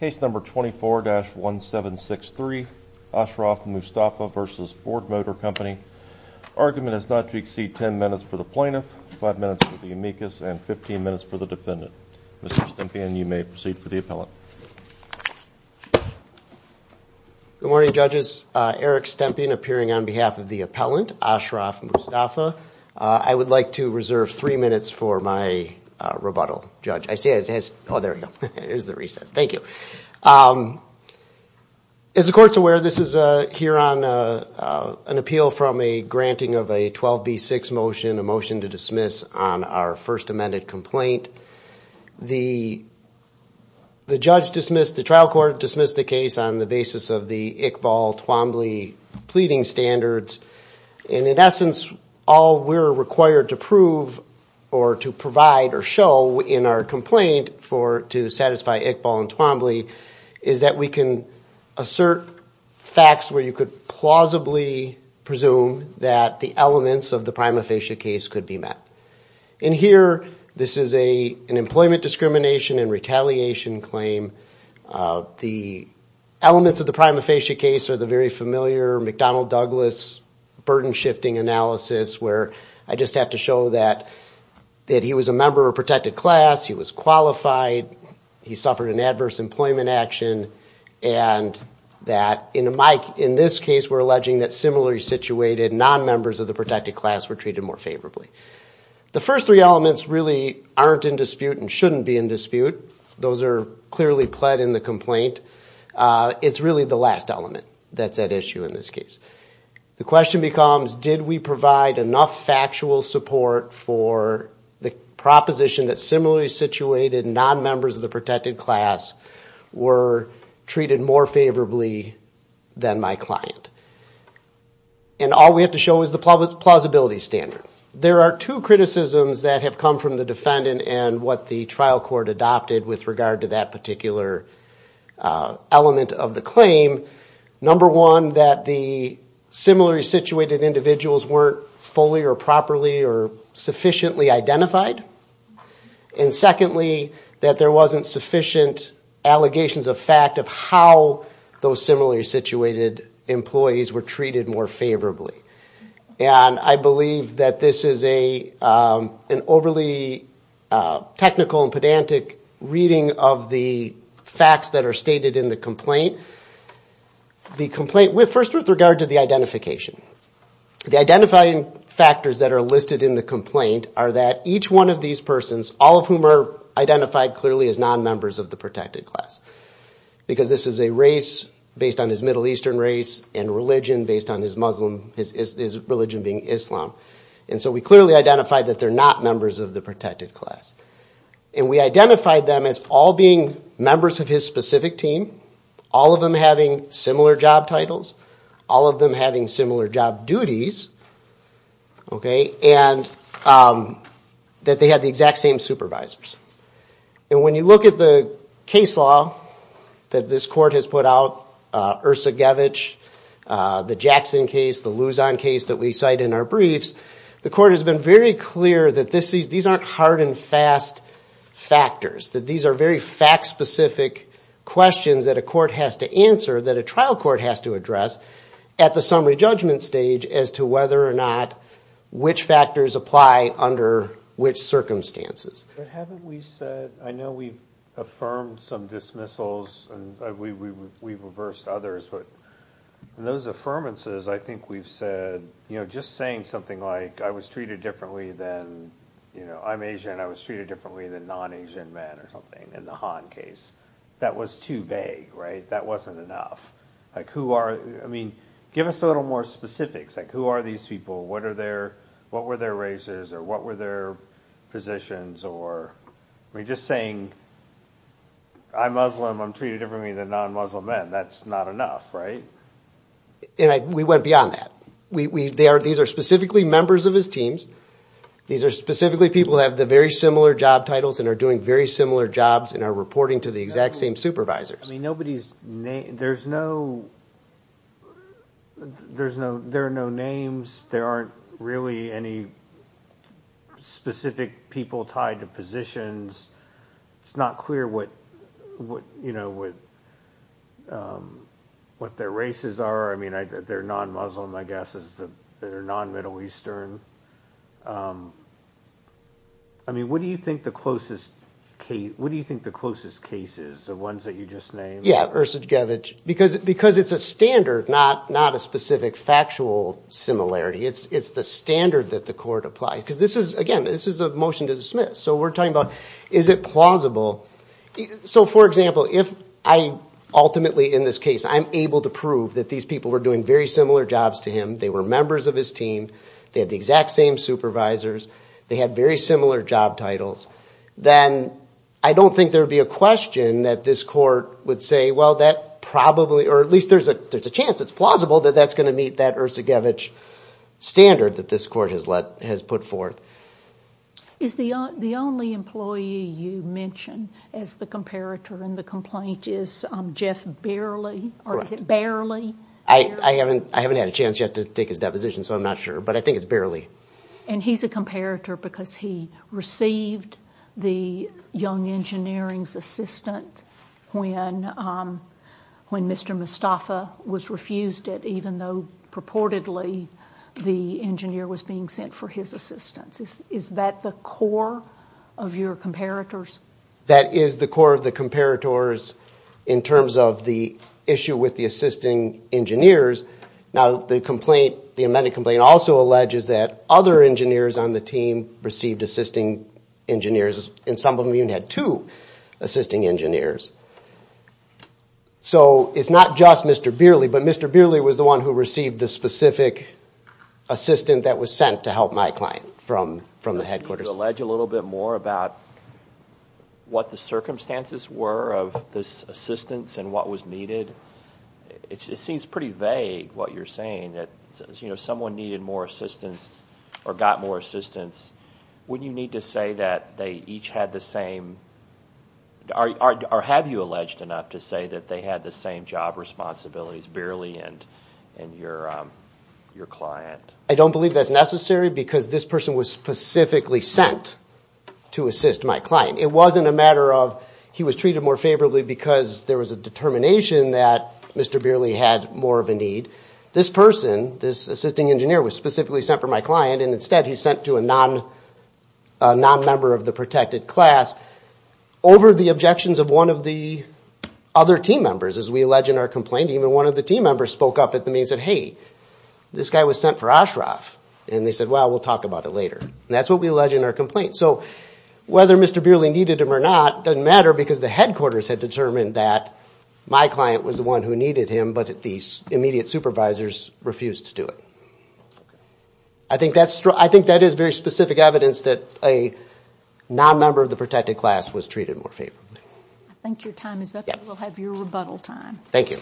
Case number 24-1763, Ashraf Mustafa v. Ford Motor Company. Argument is not to exceed 10 minutes for the plaintiff, 5 minutes for the amicus, and 15 minutes for the defendant. Mr. Stempian, you may proceed for the appellant. Good morning, judges. Eric Stempian appearing on behalf of the appellant, Ashraf Mustafa. I would like to reserve 3 minutes for my rebuttal, judge. I see it has, oh there we go, there's the reset. Thank you. As the court's aware, this is here on an appeal from a granting of a 12B6 motion, a motion to dismiss on our first amended complaint. The judge dismissed, the trial court dismissed the case on the basis of the Iqbal, Twombly pleading standards. And in essence, all we're required to prove or to provide or show in our complaint to satisfy Iqbal and Twombly is that we can assert facts where you could plausibly presume that the elements of the prima facie case could be met. In here, this is an employment discrimination and retaliation claim. The elements of the prima facie case are the very familiar McDonnell Douglas burden shifting analysis where I just have to show that he was a member of a protected class, he was qualified, he suffered an adverse employment action, and that in this case we're alleging that similarly situated non-members of the protected class were treated more favorably. The first three elements really aren't in dispute and shouldn't be in dispute. Those are clearly pled in the complaint. It's really the last element that's at issue in this case. The question becomes, did we provide enough factual support for the proposition that similarly situated non-members of the protected class were treated more favorably than my client? And all we have to show is the plausibility standard. There are two criticisms that have come from the defendant and what the trial court adopted with regard to that particular element of the claim. Number one, that the similarly situated individuals weren't fully or properly or sufficiently identified. And secondly, that there wasn't sufficient allegations of fact of how those similarly situated employees were treated more favorably. And I believe that this is an overly technical and pedantic reading of the facts that are stated in the complaint. The complaint, first with regard to the identification, the identifying factors that are listed in the complaint are that each one of these persons, all of whom are identified clearly as non-members of the protected class. Because this is a race based on his Middle Eastern race and religion based on his Muslim, his religion being Islam. And so we clearly identified that they're not members of the protected class. And we identified them as all being members of his specific team, all of them having similar job titles, all of them having similar job duties, and that they had the exact same supervisors. And when you look at the case law that this court has put out, Ersogevich, the Jackson case, the Luzon case that we cite in our briefs, the court has been very clear that these aren't hard and fast factors, that these are very fact specific questions that a court has to answer, that a trial court has to address at the summary judgment stage as to whether or not which factors apply under which circumstances. I think we said, I know we've affirmed some dismissals and we've reversed others, but those affirmances, I think we've said, you know, just saying something like, I was treated differently than, you know, I'm Asian, I was treated differently than non-Asian men or something in the Han case, that was too vague, right? Like who are, I mean, give us a little more specifics, like who are these people, what are their, what were their races, or what were their positions, or, I mean, just saying, I'm Muslim, I'm treated differently than non-Muslim men, that's not enough, right? And we went beyond that. These are specifically members of his teams, these are specifically people who have the very similar job titles and are doing very similar jobs and are reporting to the exact same supervisors. I mean, nobody's name, there's no, there are no names, there aren't really any specific people tied to positions, it's not clear what, you know, what their races are, I mean, they're non-Muslim, I guess, they're non-Middle Eastern. I mean, what do you think the closest case, what do you think the closest case is, the ones that you just named? Yeah, Ersogevich, because it's a standard, not a specific factual similarity, it's the standard that the court applies, because this is, again, this is a motion to dismiss. So we're talking about, is it plausible, so for example, if I ultimately, in this case, I'm able to prove that these people were doing very similar jobs to him, they were members of his team, they had the exact same supervisors, they had very similar job titles, then I don't think there would be a question that this court would say, well, that probably, or at least there's a chance, it's plausible that that's going to meet that Ersogevich standard that this court has put forth. Is the only employee you mention as the comparator in the complaint is Jeff Baerle, or is it Baerle? I haven't had a chance yet to take his deposition, so I'm not sure, but I think it's Baerle. And he's a comparator because he received the young engineering's assistance when Mr. Mostafa was refused it, even though purportedly the engineer was being sent for his assistance. Is that the core of your comparators? That is the core of the comparators in terms of the issue with the assisting engineers. Now, the complaint, the amended complaint also alleges that other engineers on the team received assisting engineers, and some of them even had two assisting engineers. So it's not just Mr. Baerle, but Mr. Baerle was the one who received the specific assistant that was sent to help my client from the headquarters. Could you allege a little bit more about what the circumstances were of this assistance and what was needed? It seems pretty vague, what you're saying, that someone needed more assistance or got more assistance. Wouldn't you need to say that they each had the same, or have you alleged enough to say that they had the same job responsibilities, Baerle and your client? I don't believe that's necessary because this person was specifically sent to assist my client. It wasn't a matter of he was treated more favorably because there was a determination that Mr. Baerle had more of a need. This person, this assisting engineer, was specifically sent for my client, and instead he's sent to a non-member of the protected class over the objections of one of the other team members, as we allege in our complaint. Even one of the team members spoke up at the meeting and said, hey, this guy was sent for Oshroff. And they said, well, we'll talk about it later. And that's what we allege in our complaint. So whether Mr. Baerle needed him or not doesn't matter because the headquarters had determined that my client was the one who needed him, but the immediate supervisors refused to do it. I think that is very specific evidence that a non-member of the protected class was treated more favorably. I think your time is up. We'll have your rebuttal time. Thank you.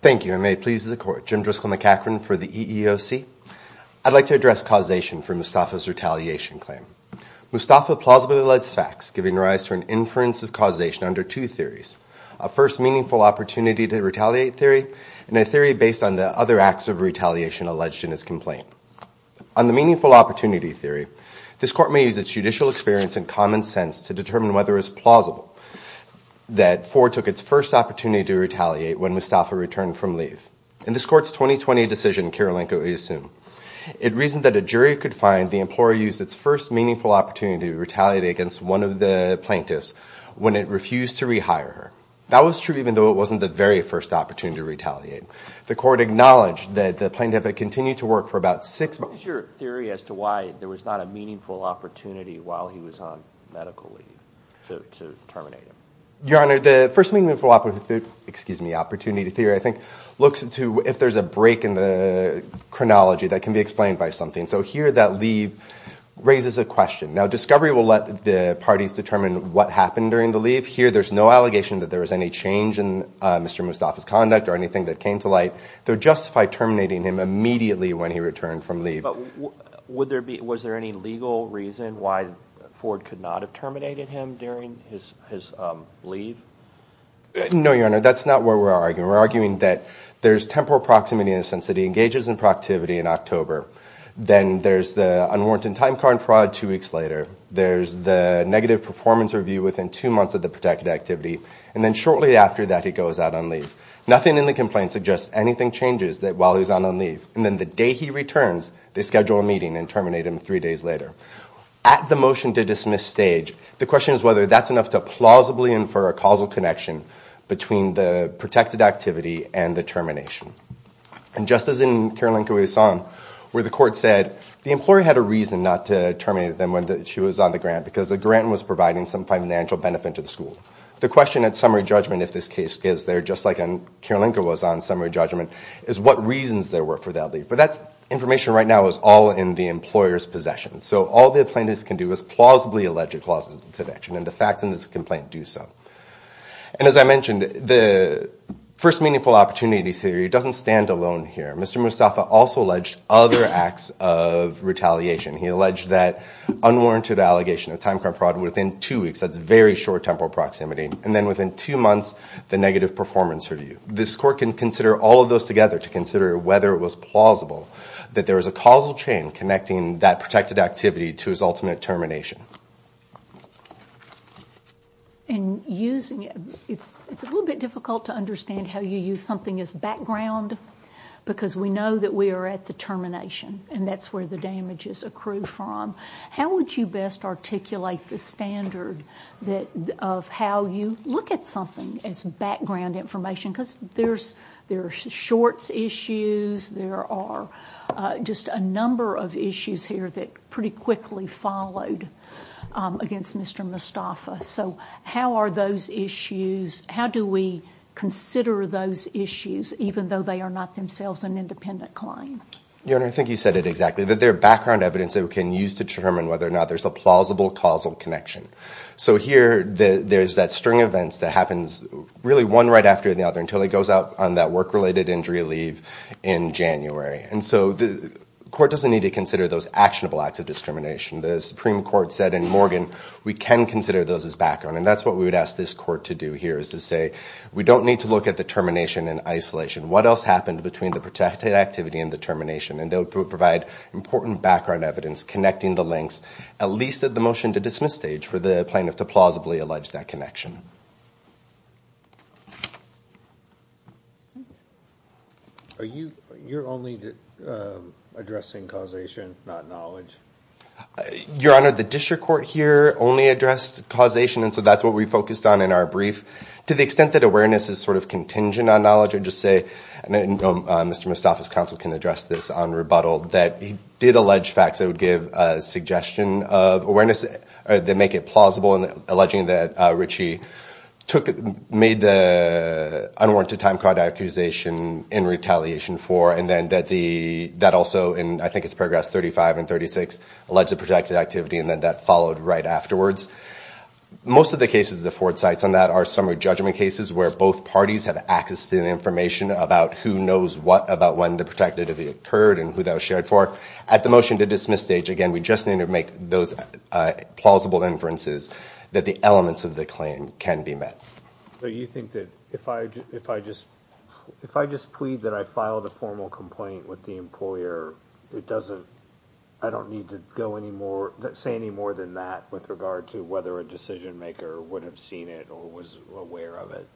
Thank you, and may it please the Court. Jim Driscoll McEachran for the EEOC. I'd like to address causation for Mustafa's retaliation claim. Mustafa plausibly alleged facts, giving rise to an inference of causation under two theories. A first, meaningful opportunity to retaliate theory, and a theory based on the other actions of the defendant. On the meaningful opportunity theory, this Court may use its judicial experience and common sense to determine whether it's plausible that Ford took its first opportunity to retaliate when Mustafa returned from leave. In this Court's 2020 decision, Kirilenko, we assume, it reasoned that a jury could find the employer used its first meaningful opportunity to retaliate against one of the plaintiffs when it refused to rehire her. That was true even though it wasn't the very first opportunity to retaliate. The Court acknowledged that the plaintiff had continued to work for about six months. What is your theory as to why there was not a meaningful opportunity while he was on medical leave to terminate him? Your Honor, the first meaningful opportunity theory, I think, looks into if there's a break in the chronology that can be explained by something. So here, that leave raises a question. Now, discovery will let the parties determine what happened during the leave. Here, there's no allegation that there was any change in Mr. Mustafa's conduct or anything that came to light that would justify terminating him immediately when he returned from leave. Was there any legal reason why Ford could not have terminated him during his leave? No, Your Honor, that's not what we're arguing. We're arguing that there's temporal proximity in the sense that he engages in productivity in October. Then there's the unwarranted time card fraud two weeks later. There's the negative performance review within two months of the protected activity. And then shortly after that, he goes out on leave. Nothing in the complaint suggests anything changes while he's on leave. And then the day he returns, they schedule a meeting and terminate him three days later. At the motion to dismiss stage, the question is whether that's enough to plausibly infer a causal connection between the protected activity and the termination. And just as in Kirilenko v. Son, where the court said the employee had a reason not to terminate them when she was on the grant because the grant was providing some financial benefit to the school. The question at summary judgment, if this case is there, just like Kirilenko was on summary judgment, is what reasons there were for that leave. But that information right now is all in the employer's possession. So all the plaintiff can do is plausibly allege a causal connection, and the facts in this complaint do so. And as I mentioned, the first meaningful opportunity theory doesn't stand alone here. Mr. Mustafa also alleged other acts of retaliation. He alleged that unwarranted allegation of time crime fraud within two weeks. That's very short temporal proximity. And then within two months, the negative performance review. This court can consider all of those together to consider whether it was plausible that there was a causal chain connecting that protected activity to his ultimate termination. In using it, it's a little bit difficult to understand how you use something as background, because we know that we are at the termination, and that's where the damages accrue from. How would you best articulate the standard of how you look at something as background information? Because there are shorts issues. There are just a number of issues here that pretty quickly followed against Mr. Mustafa. So how are those issues, how do we consider those issues, even though they are not themselves an independent claim? Your Honor, I think you said it exactly, that they're background evidence that we can use to determine whether or not there's a plausible causal connection. So here, there's that string of events that happens really one right after the other until he goes out on that work-related injury leave in January. And so the court doesn't need to consider those actionable acts of discrimination. The Supreme Court said in Morgan, we can consider those as background. And that's what we would ask this court to do here, is to say, we don't need to look at the termination in isolation. What else happened between the protected activity and the termination? And they would provide important background evidence connecting the links, at least at the motion-to-dismiss stage, for the plaintiff to plausibly allege that connection. Are you only addressing causation, not knowledge? Your Honor, the district court here only addressed causation, and so that's what we focused on in our brief. To the extent that awareness is sort of contingent on knowledge, I'd just say, and Mr. Mostafa's counsel can address this on rebuttal, that he did allege facts that would give a suggestion of awareness that make it plausible in alleging that Ritchie made the unwarranted time-crawled accusation in retaliation for, and then that also, in I think it's paragraphs 35 and 36, alleged a protected activity, and then that followed right afterwards. Most of the cases the court cites on that are summary judgment cases where both parties have access to the information about who knows what about when the protected activity occurred and who that was shared for. At the motion-to-dismiss stage, again, we just need to make those plausible inferences that the elements of the claim can be met. So you think that if I just plead that I filed a formal complaint with the employer, I don't need to say any more than that with regard to whether a decision-maker would have seen it or was aware of it?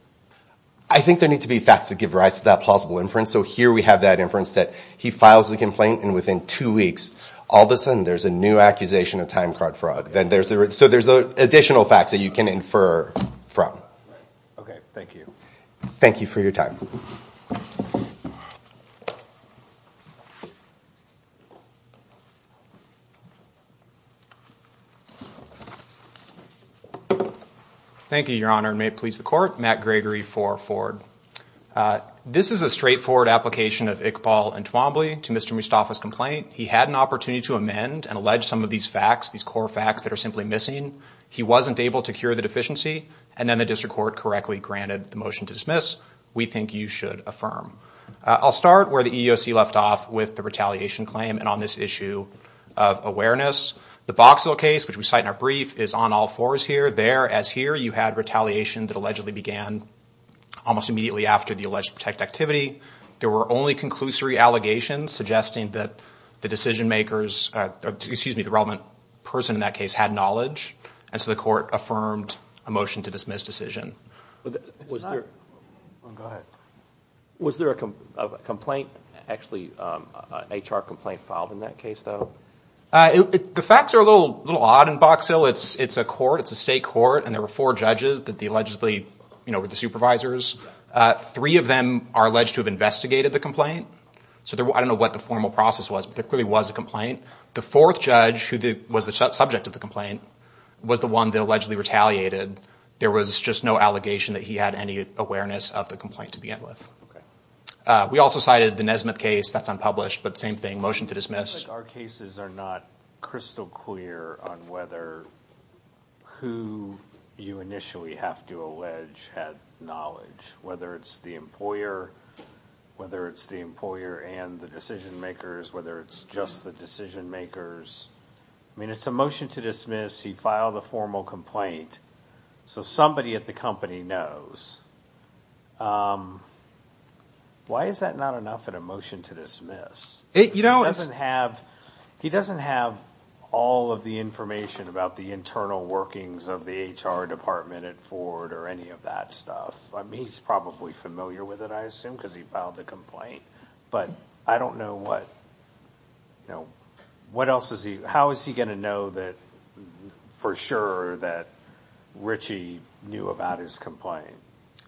I think there need to be facts that give rise to that plausible inference, so here we have that inference that he files the complaint, and within two weeks, all of a sudden, there's a new accusation of time-crawled fraud. So there's additional facts that you can infer from. Okay, thank you. Thank you for your time. Thank you. Thank you, Your Honor, and may it please the court, Matt Gregory for Ford. This is a straightforward application of Iqbal Entwombly to Mr. Mustafa's complaint. He had an opportunity to amend and allege some of these facts, these core facts that are simply missing. He wasn't able to cure the deficiency, and then the district court correctly granted the motion to dismiss. We think you should affirm. I'll start where the EEOC left off with the retaliation claim and on this issue of awareness. The Boxall case, which we cite in our brief, is on all fours here. There, as here, you had retaliation that allegedly began almost immediately after the alleged protected activity. There were only conclusory allegations suggesting that the decision-makers, excuse me, the relevant person in that case had knowledge, and so the court affirmed a motion to dismiss decision. Was there a complaint, actually an HR complaint filed in that case, though? The facts are a little odd in Boxall. It's a court, it's a state court, and there were four judges that allegedly were the supervisors. Three of them are alleged to have investigated the complaint, so I don't know what the formal process was, but there clearly was a complaint. The fourth judge, who was the subject of the complaint, was the one that allegedly retaliated. There was just no allegation that he had any awareness of the complaint to begin with. We also cited the Nesmith case. That's unpublished, but same thing, motion to dismiss. Our cases are not crystal clear on whether who you initially have to allege had knowledge, whether it's the employer, whether it's the employer and the decision-makers, whether it's just the decision-makers. I mean, it's a motion to dismiss. He filed a formal complaint, so somebody at the company knows. Why is that not enough in a motion to dismiss? He doesn't have all of the information about the internal workings of the HR department at Ford or any of that stuff. I mean, he's probably familiar with it, I assume, because he filed the complaint, but I don't know what else is he... How is he going to know for sure that Ritchie knew about his complaint?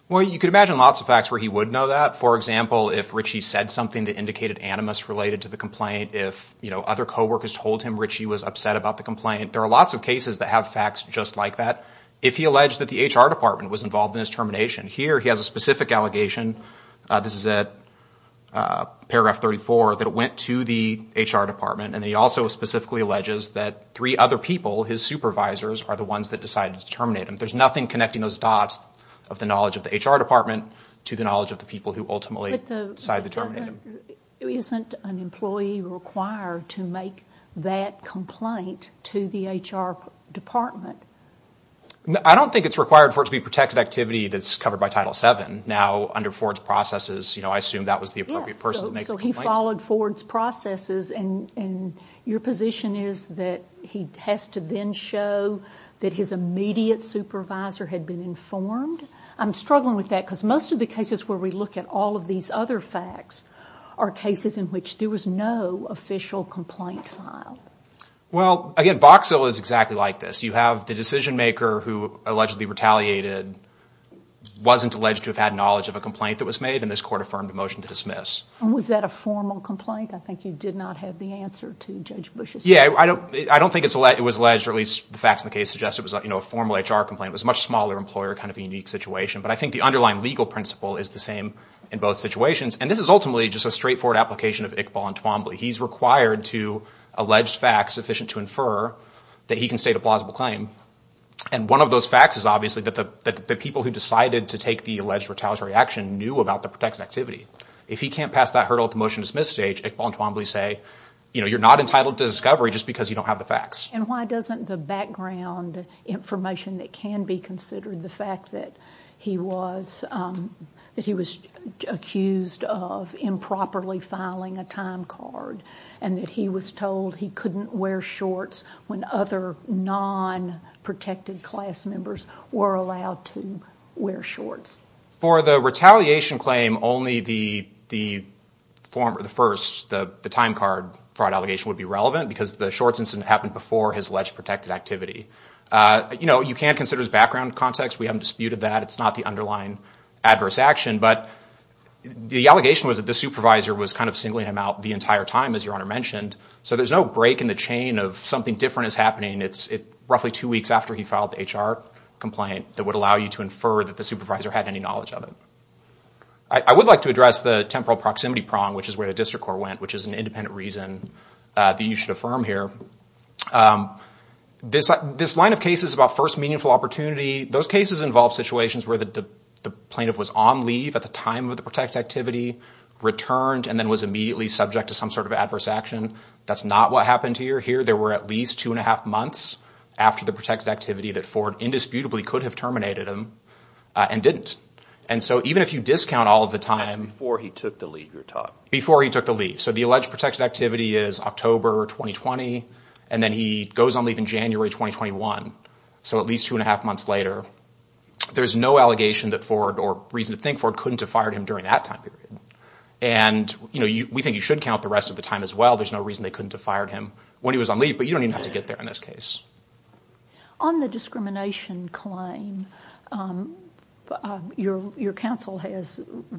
Well, you could imagine lots of facts where he would know that. For example, if Ritchie said something that indicated animus related to the complaint, if other coworkers told him Ritchie was upset about the complaint, there are lots of cases that have facts just like that. If he alleged that the HR department was involved in his termination, here he has a specific allegation. This is at paragraph 34, that it went to the HR department, and he also specifically alleges that three other people, his supervisors, are the ones that decided to terminate him. There's nothing connecting those dots of the knowledge of the HR department to the knowledge of the people who ultimately decided to terminate him. But isn't an employee required to make that complaint to the HR department? I don't think it's required for it to be protected activity that's covered by Title VII. Now, under Ford's processes, I assume that was the appropriate person to make the complaint. So he followed Ford's processes, and your position is that he has to then show that his immediate supervisor had been informed? I'm struggling with that, because most of the cases where we look at all of these other facts are cases in which there was no official complaint filed. Well, again, Box Hill is exactly like this. The decision-maker who allegedly retaliated wasn't alleged to have had knowledge of a complaint that was made, and this Court affirmed a motion to dismiss. And was that a formal complaint? I think you did not have the answer to Judge Bush's question. Yeah, I don't think it was alleged, or at least the facts in the case suggest it was a formal HR complaint. It was a much smaller employer kind of unique situation. But I think the underlying legal principle is the same in both situations. And this is ultimately just a straightforward application of Iqbal and Twombly. He's required to allege facts sufficient to infer that he can state a plausible claim. And one of those facts is obviously that the people who decided to take the alleged retaliatory action knew about the protected activity. If he can't pass that hurdle at the motion-to-dismiss stage, Iqbal and Twombly say, you know, you're not entitled to discovery just because you don't have the facts. And why doesn't the background information that can be considered, the fact that he was accused of improperly filing a time card, and that he was told he couldn't wear shorts when other non-protected class members were allowed to wear shorts. For the retaliation claim, only the first, the time card fraud allegation would be relevant because the shorts incident happened before his alleged protected activity. You know, you can consider his background context. We haven't disputed that. It's not the underlying adverse action. But the allegation was that the supervisor was kind of singling him out the entire time as your Honor mentioned. So there's no break in the chain of something different is happening. It's roughly two weeks after he filed the HR complaint that would allow you to infer that the supervisor had any knowledge of it. I would like to address the temporal proximity prong, which is where the district court went, which is an independent reason that you should affirm here. This line of cases about first meaningful opportunity, those cases involve situations where the plaintiff was on leave at the time of the protected activity, returned, and then was immediately subject to some sort of adverse action. That's not what happened here. There were at least two and a half months after the protected activity that Ford indisputably could have terminated him and didn't. And so even if you discount all of the time— Before he took the leave, you're talking. Before he took the leave. So the alleged protected activity is October 2020, and then he goes on leave in January 2021. So at least two and a half months later. There's no allegation that Ford or reason to think Ford couldn't have fired him during that time period. And we think you should count the rest of the time as well. There's no reason they couldn't have fired him when he was on leave, but you don't even have to get there in this case. On the discrimination claim, your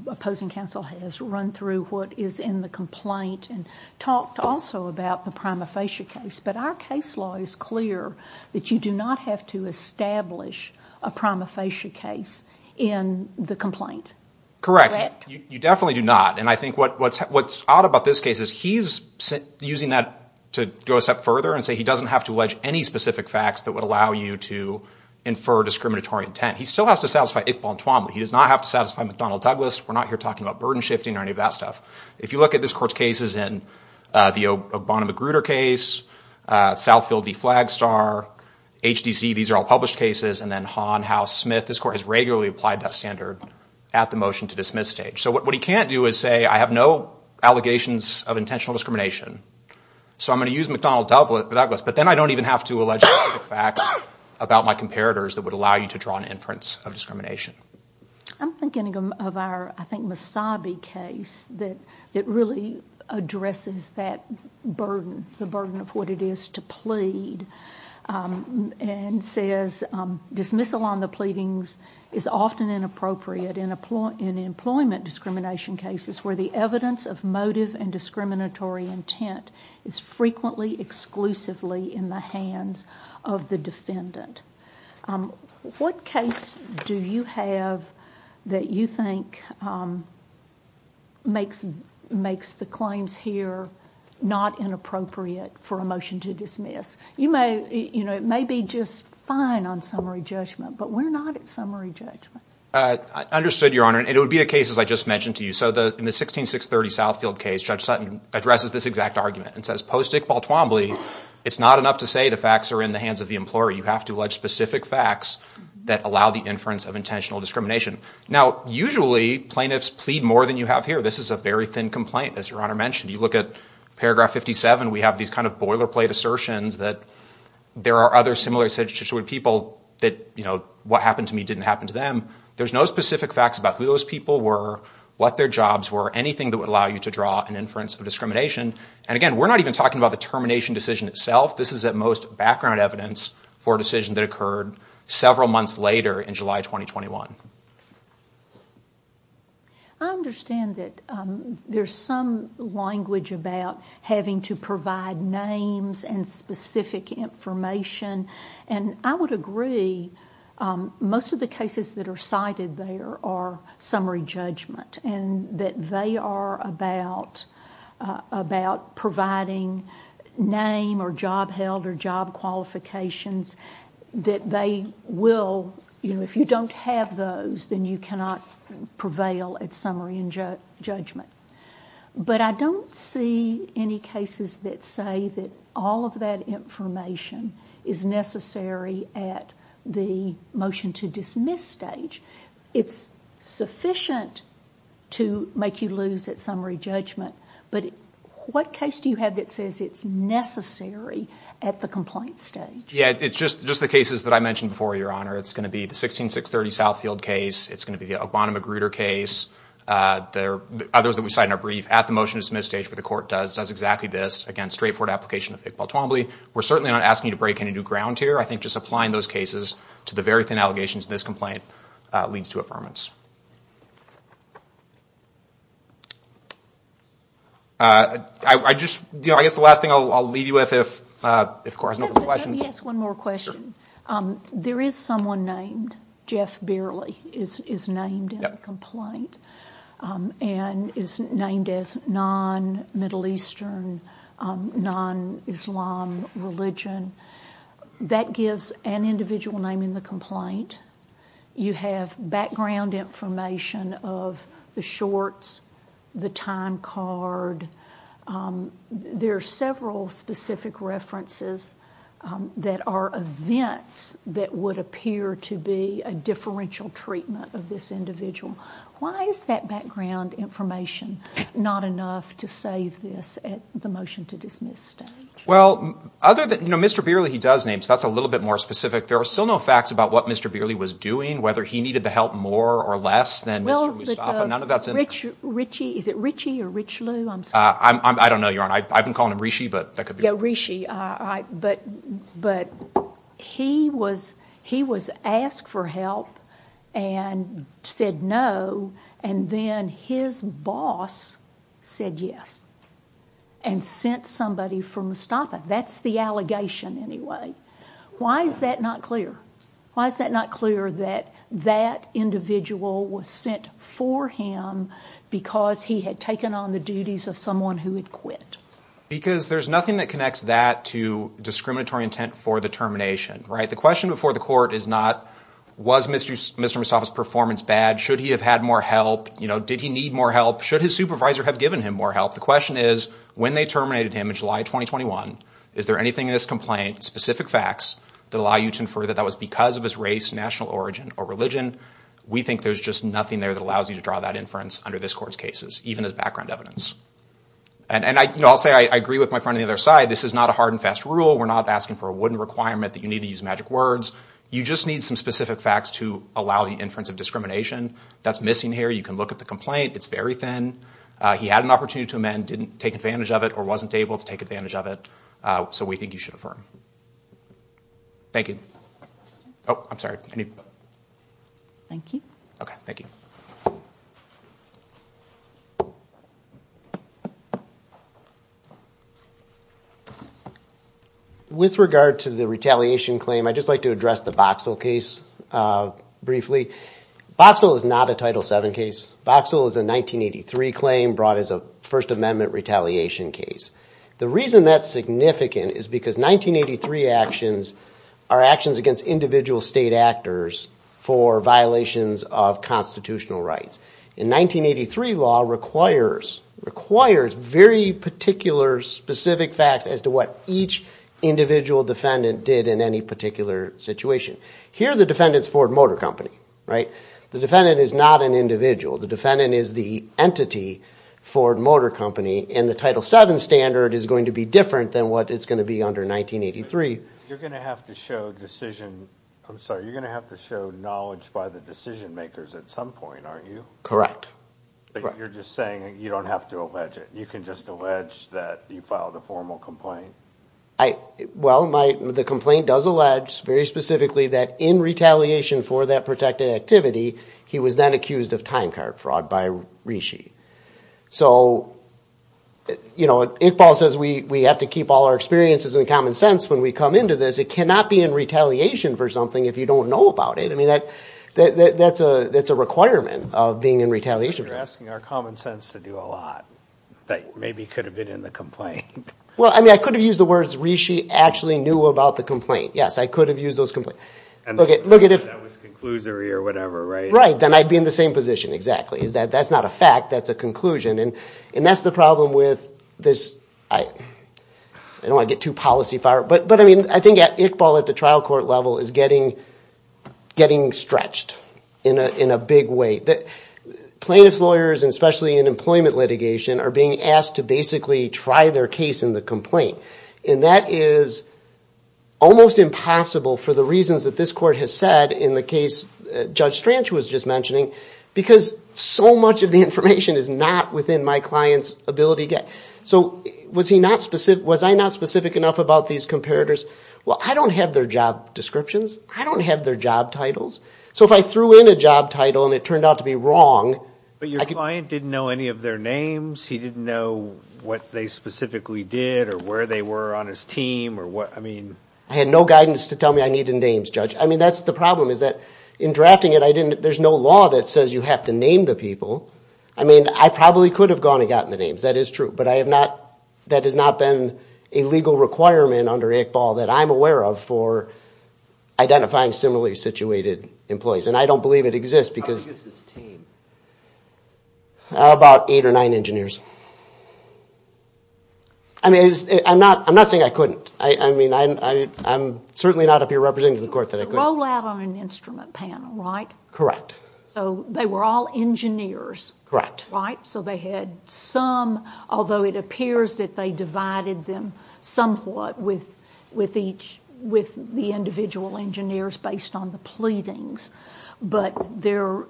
opposing counsel has run through what is in the complaint and talked also about the prima facie case, but our case law is clear that you do not have to establish a prima facie case in the complaint. Correct. You definitely do not. And I think what's odd about this case is he's using that to go a step further and say he doesn't have to allege any specific facts that would allow you to infer discriminatory intent. He still has to satisfy Iqbal and Twombly. He does not have to satisfy McDonnell Douglas. We're not here talking about burden shifting or any of that stuff. If you look at this court's cases in the Obama-McGruder case, Southfield v. Flagstar, HDC, these are all published cases, and then Hahn, House, Smith, this court has regularly applied that standard to the motion to dismiss stage. So what he can't do is say I have no allegations of intentional discrimination, so I'm going to use McDonnell Douglas, but then I don't even have to allege specific facts about my comparators that would allow you to draw an inference of discrimination. I'm thinking of our, I think, Mussabi case that really addresses that burden, the burden of what it is to plead and says dismissal on the pleadings is often inappropriate in employment discrimination cases where the evidence of motive and discriminatory intent is frequently exclusively in the hands of the defendant. What case do you have that you think makes the claims here not inappropriate for a motion to dismiss? It may be just fine on summary judgment, but we're not at summary judgment. I understood, Your Honor, and it would be a case as I just mentioned to you. So in the 16630 Southfield case, Judge Sutton addresses this exact argument and says post-Iqbal Twombly, it's not enough to say the facts are in the hands of the employer. You have to allege specific facts that allow the inference of intentional discrimination. Now, usually plaintiffs plead more than you have here. This is a very thin complaint, as Your Honor mentioned. You look at paragraph 57, we have these kind of boilerplate assertions that there are other similar situations where people that, you know, what happened to me didn't happen to them. There's no specific facts about who those people were, what their jobs were, anything that would allow you to draw an inference of discrimination. And again, we're not even talking about the termination decision itself. This is at most background evidence for a decision that occurred several months later in July 2021. I understand that there's some language about having to provide names and specific information, and I would agree, most of the cases that are cited there are summary judgment, and that they are about providing name or job held or job qualifications that they will, you know, if you don't have those, then you cannot prevail at summary and judgment. But I don't see any cases that say that all of that information is necessary at the motion to dismiss stage. It's sufficient to make you lose at summary judgment, but what case do you have that says it's necessary at the complaint stage? Yeah, it's just the cases that I mentioned before, Your Honor. It's going to be the 16630 Southfield case. It's going to be the O'Connor Magruder case. There are others that we cite in our brief at the motion to dismiss stage, but the court does exactly this. Again, straightforward application of Iqbal Twombly. We're certainly not asking you to break any new ground here. I think just applying those cases to the very thin allegations in this complaint leads to affirmance. I just, you know, I guess the last thing I'll leave you with, if the court has no further questions. Let me ask one more question. There is someone named, Jeff Bearly is named in the complaint and is named as non-Middle Eastern non-Islam religion. That gives an individual name in the complaint. You have background information of the shorts, the time card. There are several specific references that are events that would appear to be a differential treatment of this individual. Why is that background information not enough to save this at the motion to dismiss stage? Well, other than, you know, Mr. Bearly, he does name, so that's a little bit more specific. There are still no facts about what Mr. Bearly was doing, whether he needed the help more or less than Mr. Mustafa. Is it Richie or Rich Lou? I don't know, Your Honor. I've been calling him Rishi. Yeah, Rishi. But he was asked for help and said no, and then his boss said yes and sent somebody for Mustafa. That's the allegation anyway. Why is that not clear? Why is that not clear that that individual was sent for him because he had taken on the duties of someone who had quit? Because there's nothing that connects that to discriminatory intent for the termination, right? The question before the court is not, was Mr. Mustafa's performance bad? Should he have had more help? Did he need more help? Should his supervisor have given him more help? The question is, when they terminated him in July 2021, is there anything in this complaint, specific facts that allow you to infer that that was because of his race, national origin, or religion? We think there's just nothing there that allows you to draw that inference under this court's cases, even as background evidence. And I'll say I agree with my friend on the other side. This is not a hard and fast rule. We're not asking for a wooden requirement that's missing here. You can look at the complaint. It's very thin. He had an opportunity to amend, didn't take advantage of it, or wasn't able to take advantage of it. So we think you should affirm. Thank you. Oh, I'm sorry. Thank you. With regard to the retaliation claim, I'd just like to address the Boxall case briefly. Boxall is not a Title VII case. Boxall is a 1983 claim brought as a First Amendment retaliation case. The reason that's significant is because 1983 actions are actions against individual state actors for violations of constitutional rights. And 1983 law requires very particular, specific facts as to what each individual defendant did in any particular situation. Here, the defendant's Ford Motor Company. Right? The defendant is not an individual. The defendant is the entity, Ford Motor Company, and the Title VII standard is going to be different than what it's going to be under 1983. You're going to have to show decision... I'm sorry, you're going to have to show knowledge by the decision-makers at some point, aren't you? Correct. But you're just saying you don't have to allege it. You can just allege that you filed a formal complaint. Well, the complaint does allege very specifically that in retaliation for that protected activity, he was then accused of time card fraud by Rishi. So, you know, Iqbal says we have to keep all our experiences in common sense when we come into this. It cannot be in retaliation for something if you don't know about it. I mean, that's a requirement of being in retaliation. But you're asking our common sense to do a lot that maybe could have been in the complaint. Well, I mean, I could have used the words Rishi actually knew about the complaint. Yes, I could have used those... That was conclusory or whatever, right? Right, then I'd be in the same position, exactly. That's not a fact, that's a conclusion. And that's the problem with this... I don't want to get too policy-fired, but I mean, I think Iqbal at the trial court level is getting stretched in a big way. These lawyers, especially in employment litigation, are being asked to basically try their case in the complaint. And that is almost impossible for the reasons that this court has said in the case Judge Strange was just mentioning, because so much of the information is not within my client's ability. So was I not specific enough about these comparators? Well, I don't have their job descriptions. I don't have their job titles. So if I threw in a job title I could... Your client didn't know any of their names? He didn't know what they specifically did or where they were on his team? I mean... I had no guidance to tell me I needed names, Judge. I mean, that's the problem, is that in drafting it, there's no law that says you have to name the people. I mean, I probably could have gone and gotten the names, that is true. But that has not been a legal requirement under Iqbal that I'm aware of about eight or nine engineers. I mean, I'm not saying I couldn't. I mean, I'm certainly not a peer representative of the court that I couldn't. So it was a rollout on an instrument panel, right? Correct. So they were all engineers, right? So they had some, although it appears that they divided them somewhat with the individual engineers based on the pleadings. But your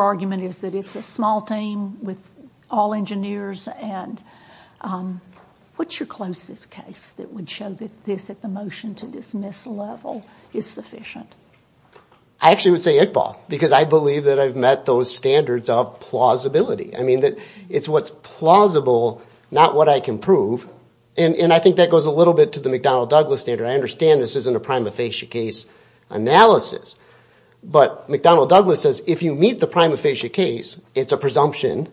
argument is that it's a small team with all engineers, and what's your closest case that would show that this, at the motion-to-dismiss level, is sufficient? I actually would say Iqbal, because I believe that I've met those standards of plausibility. I mean, it's what's plausible, not what I can prove. And I think that goes a little bit to the McDonnell-Douglas standard. I understand this isn't a prima facie case analysis, it's a presumption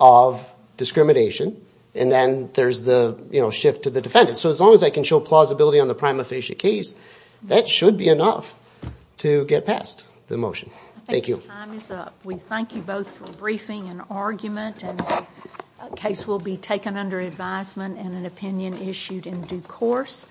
of discrimination, and then there's the shift to the defendant. So as long as I can show plausibility on the prima facie case, that should be enough to get past the motion. Thank you. I think our time is up. We thank you both for briefing and argument, and the case will be taken under advisement and an opinion issued in due course.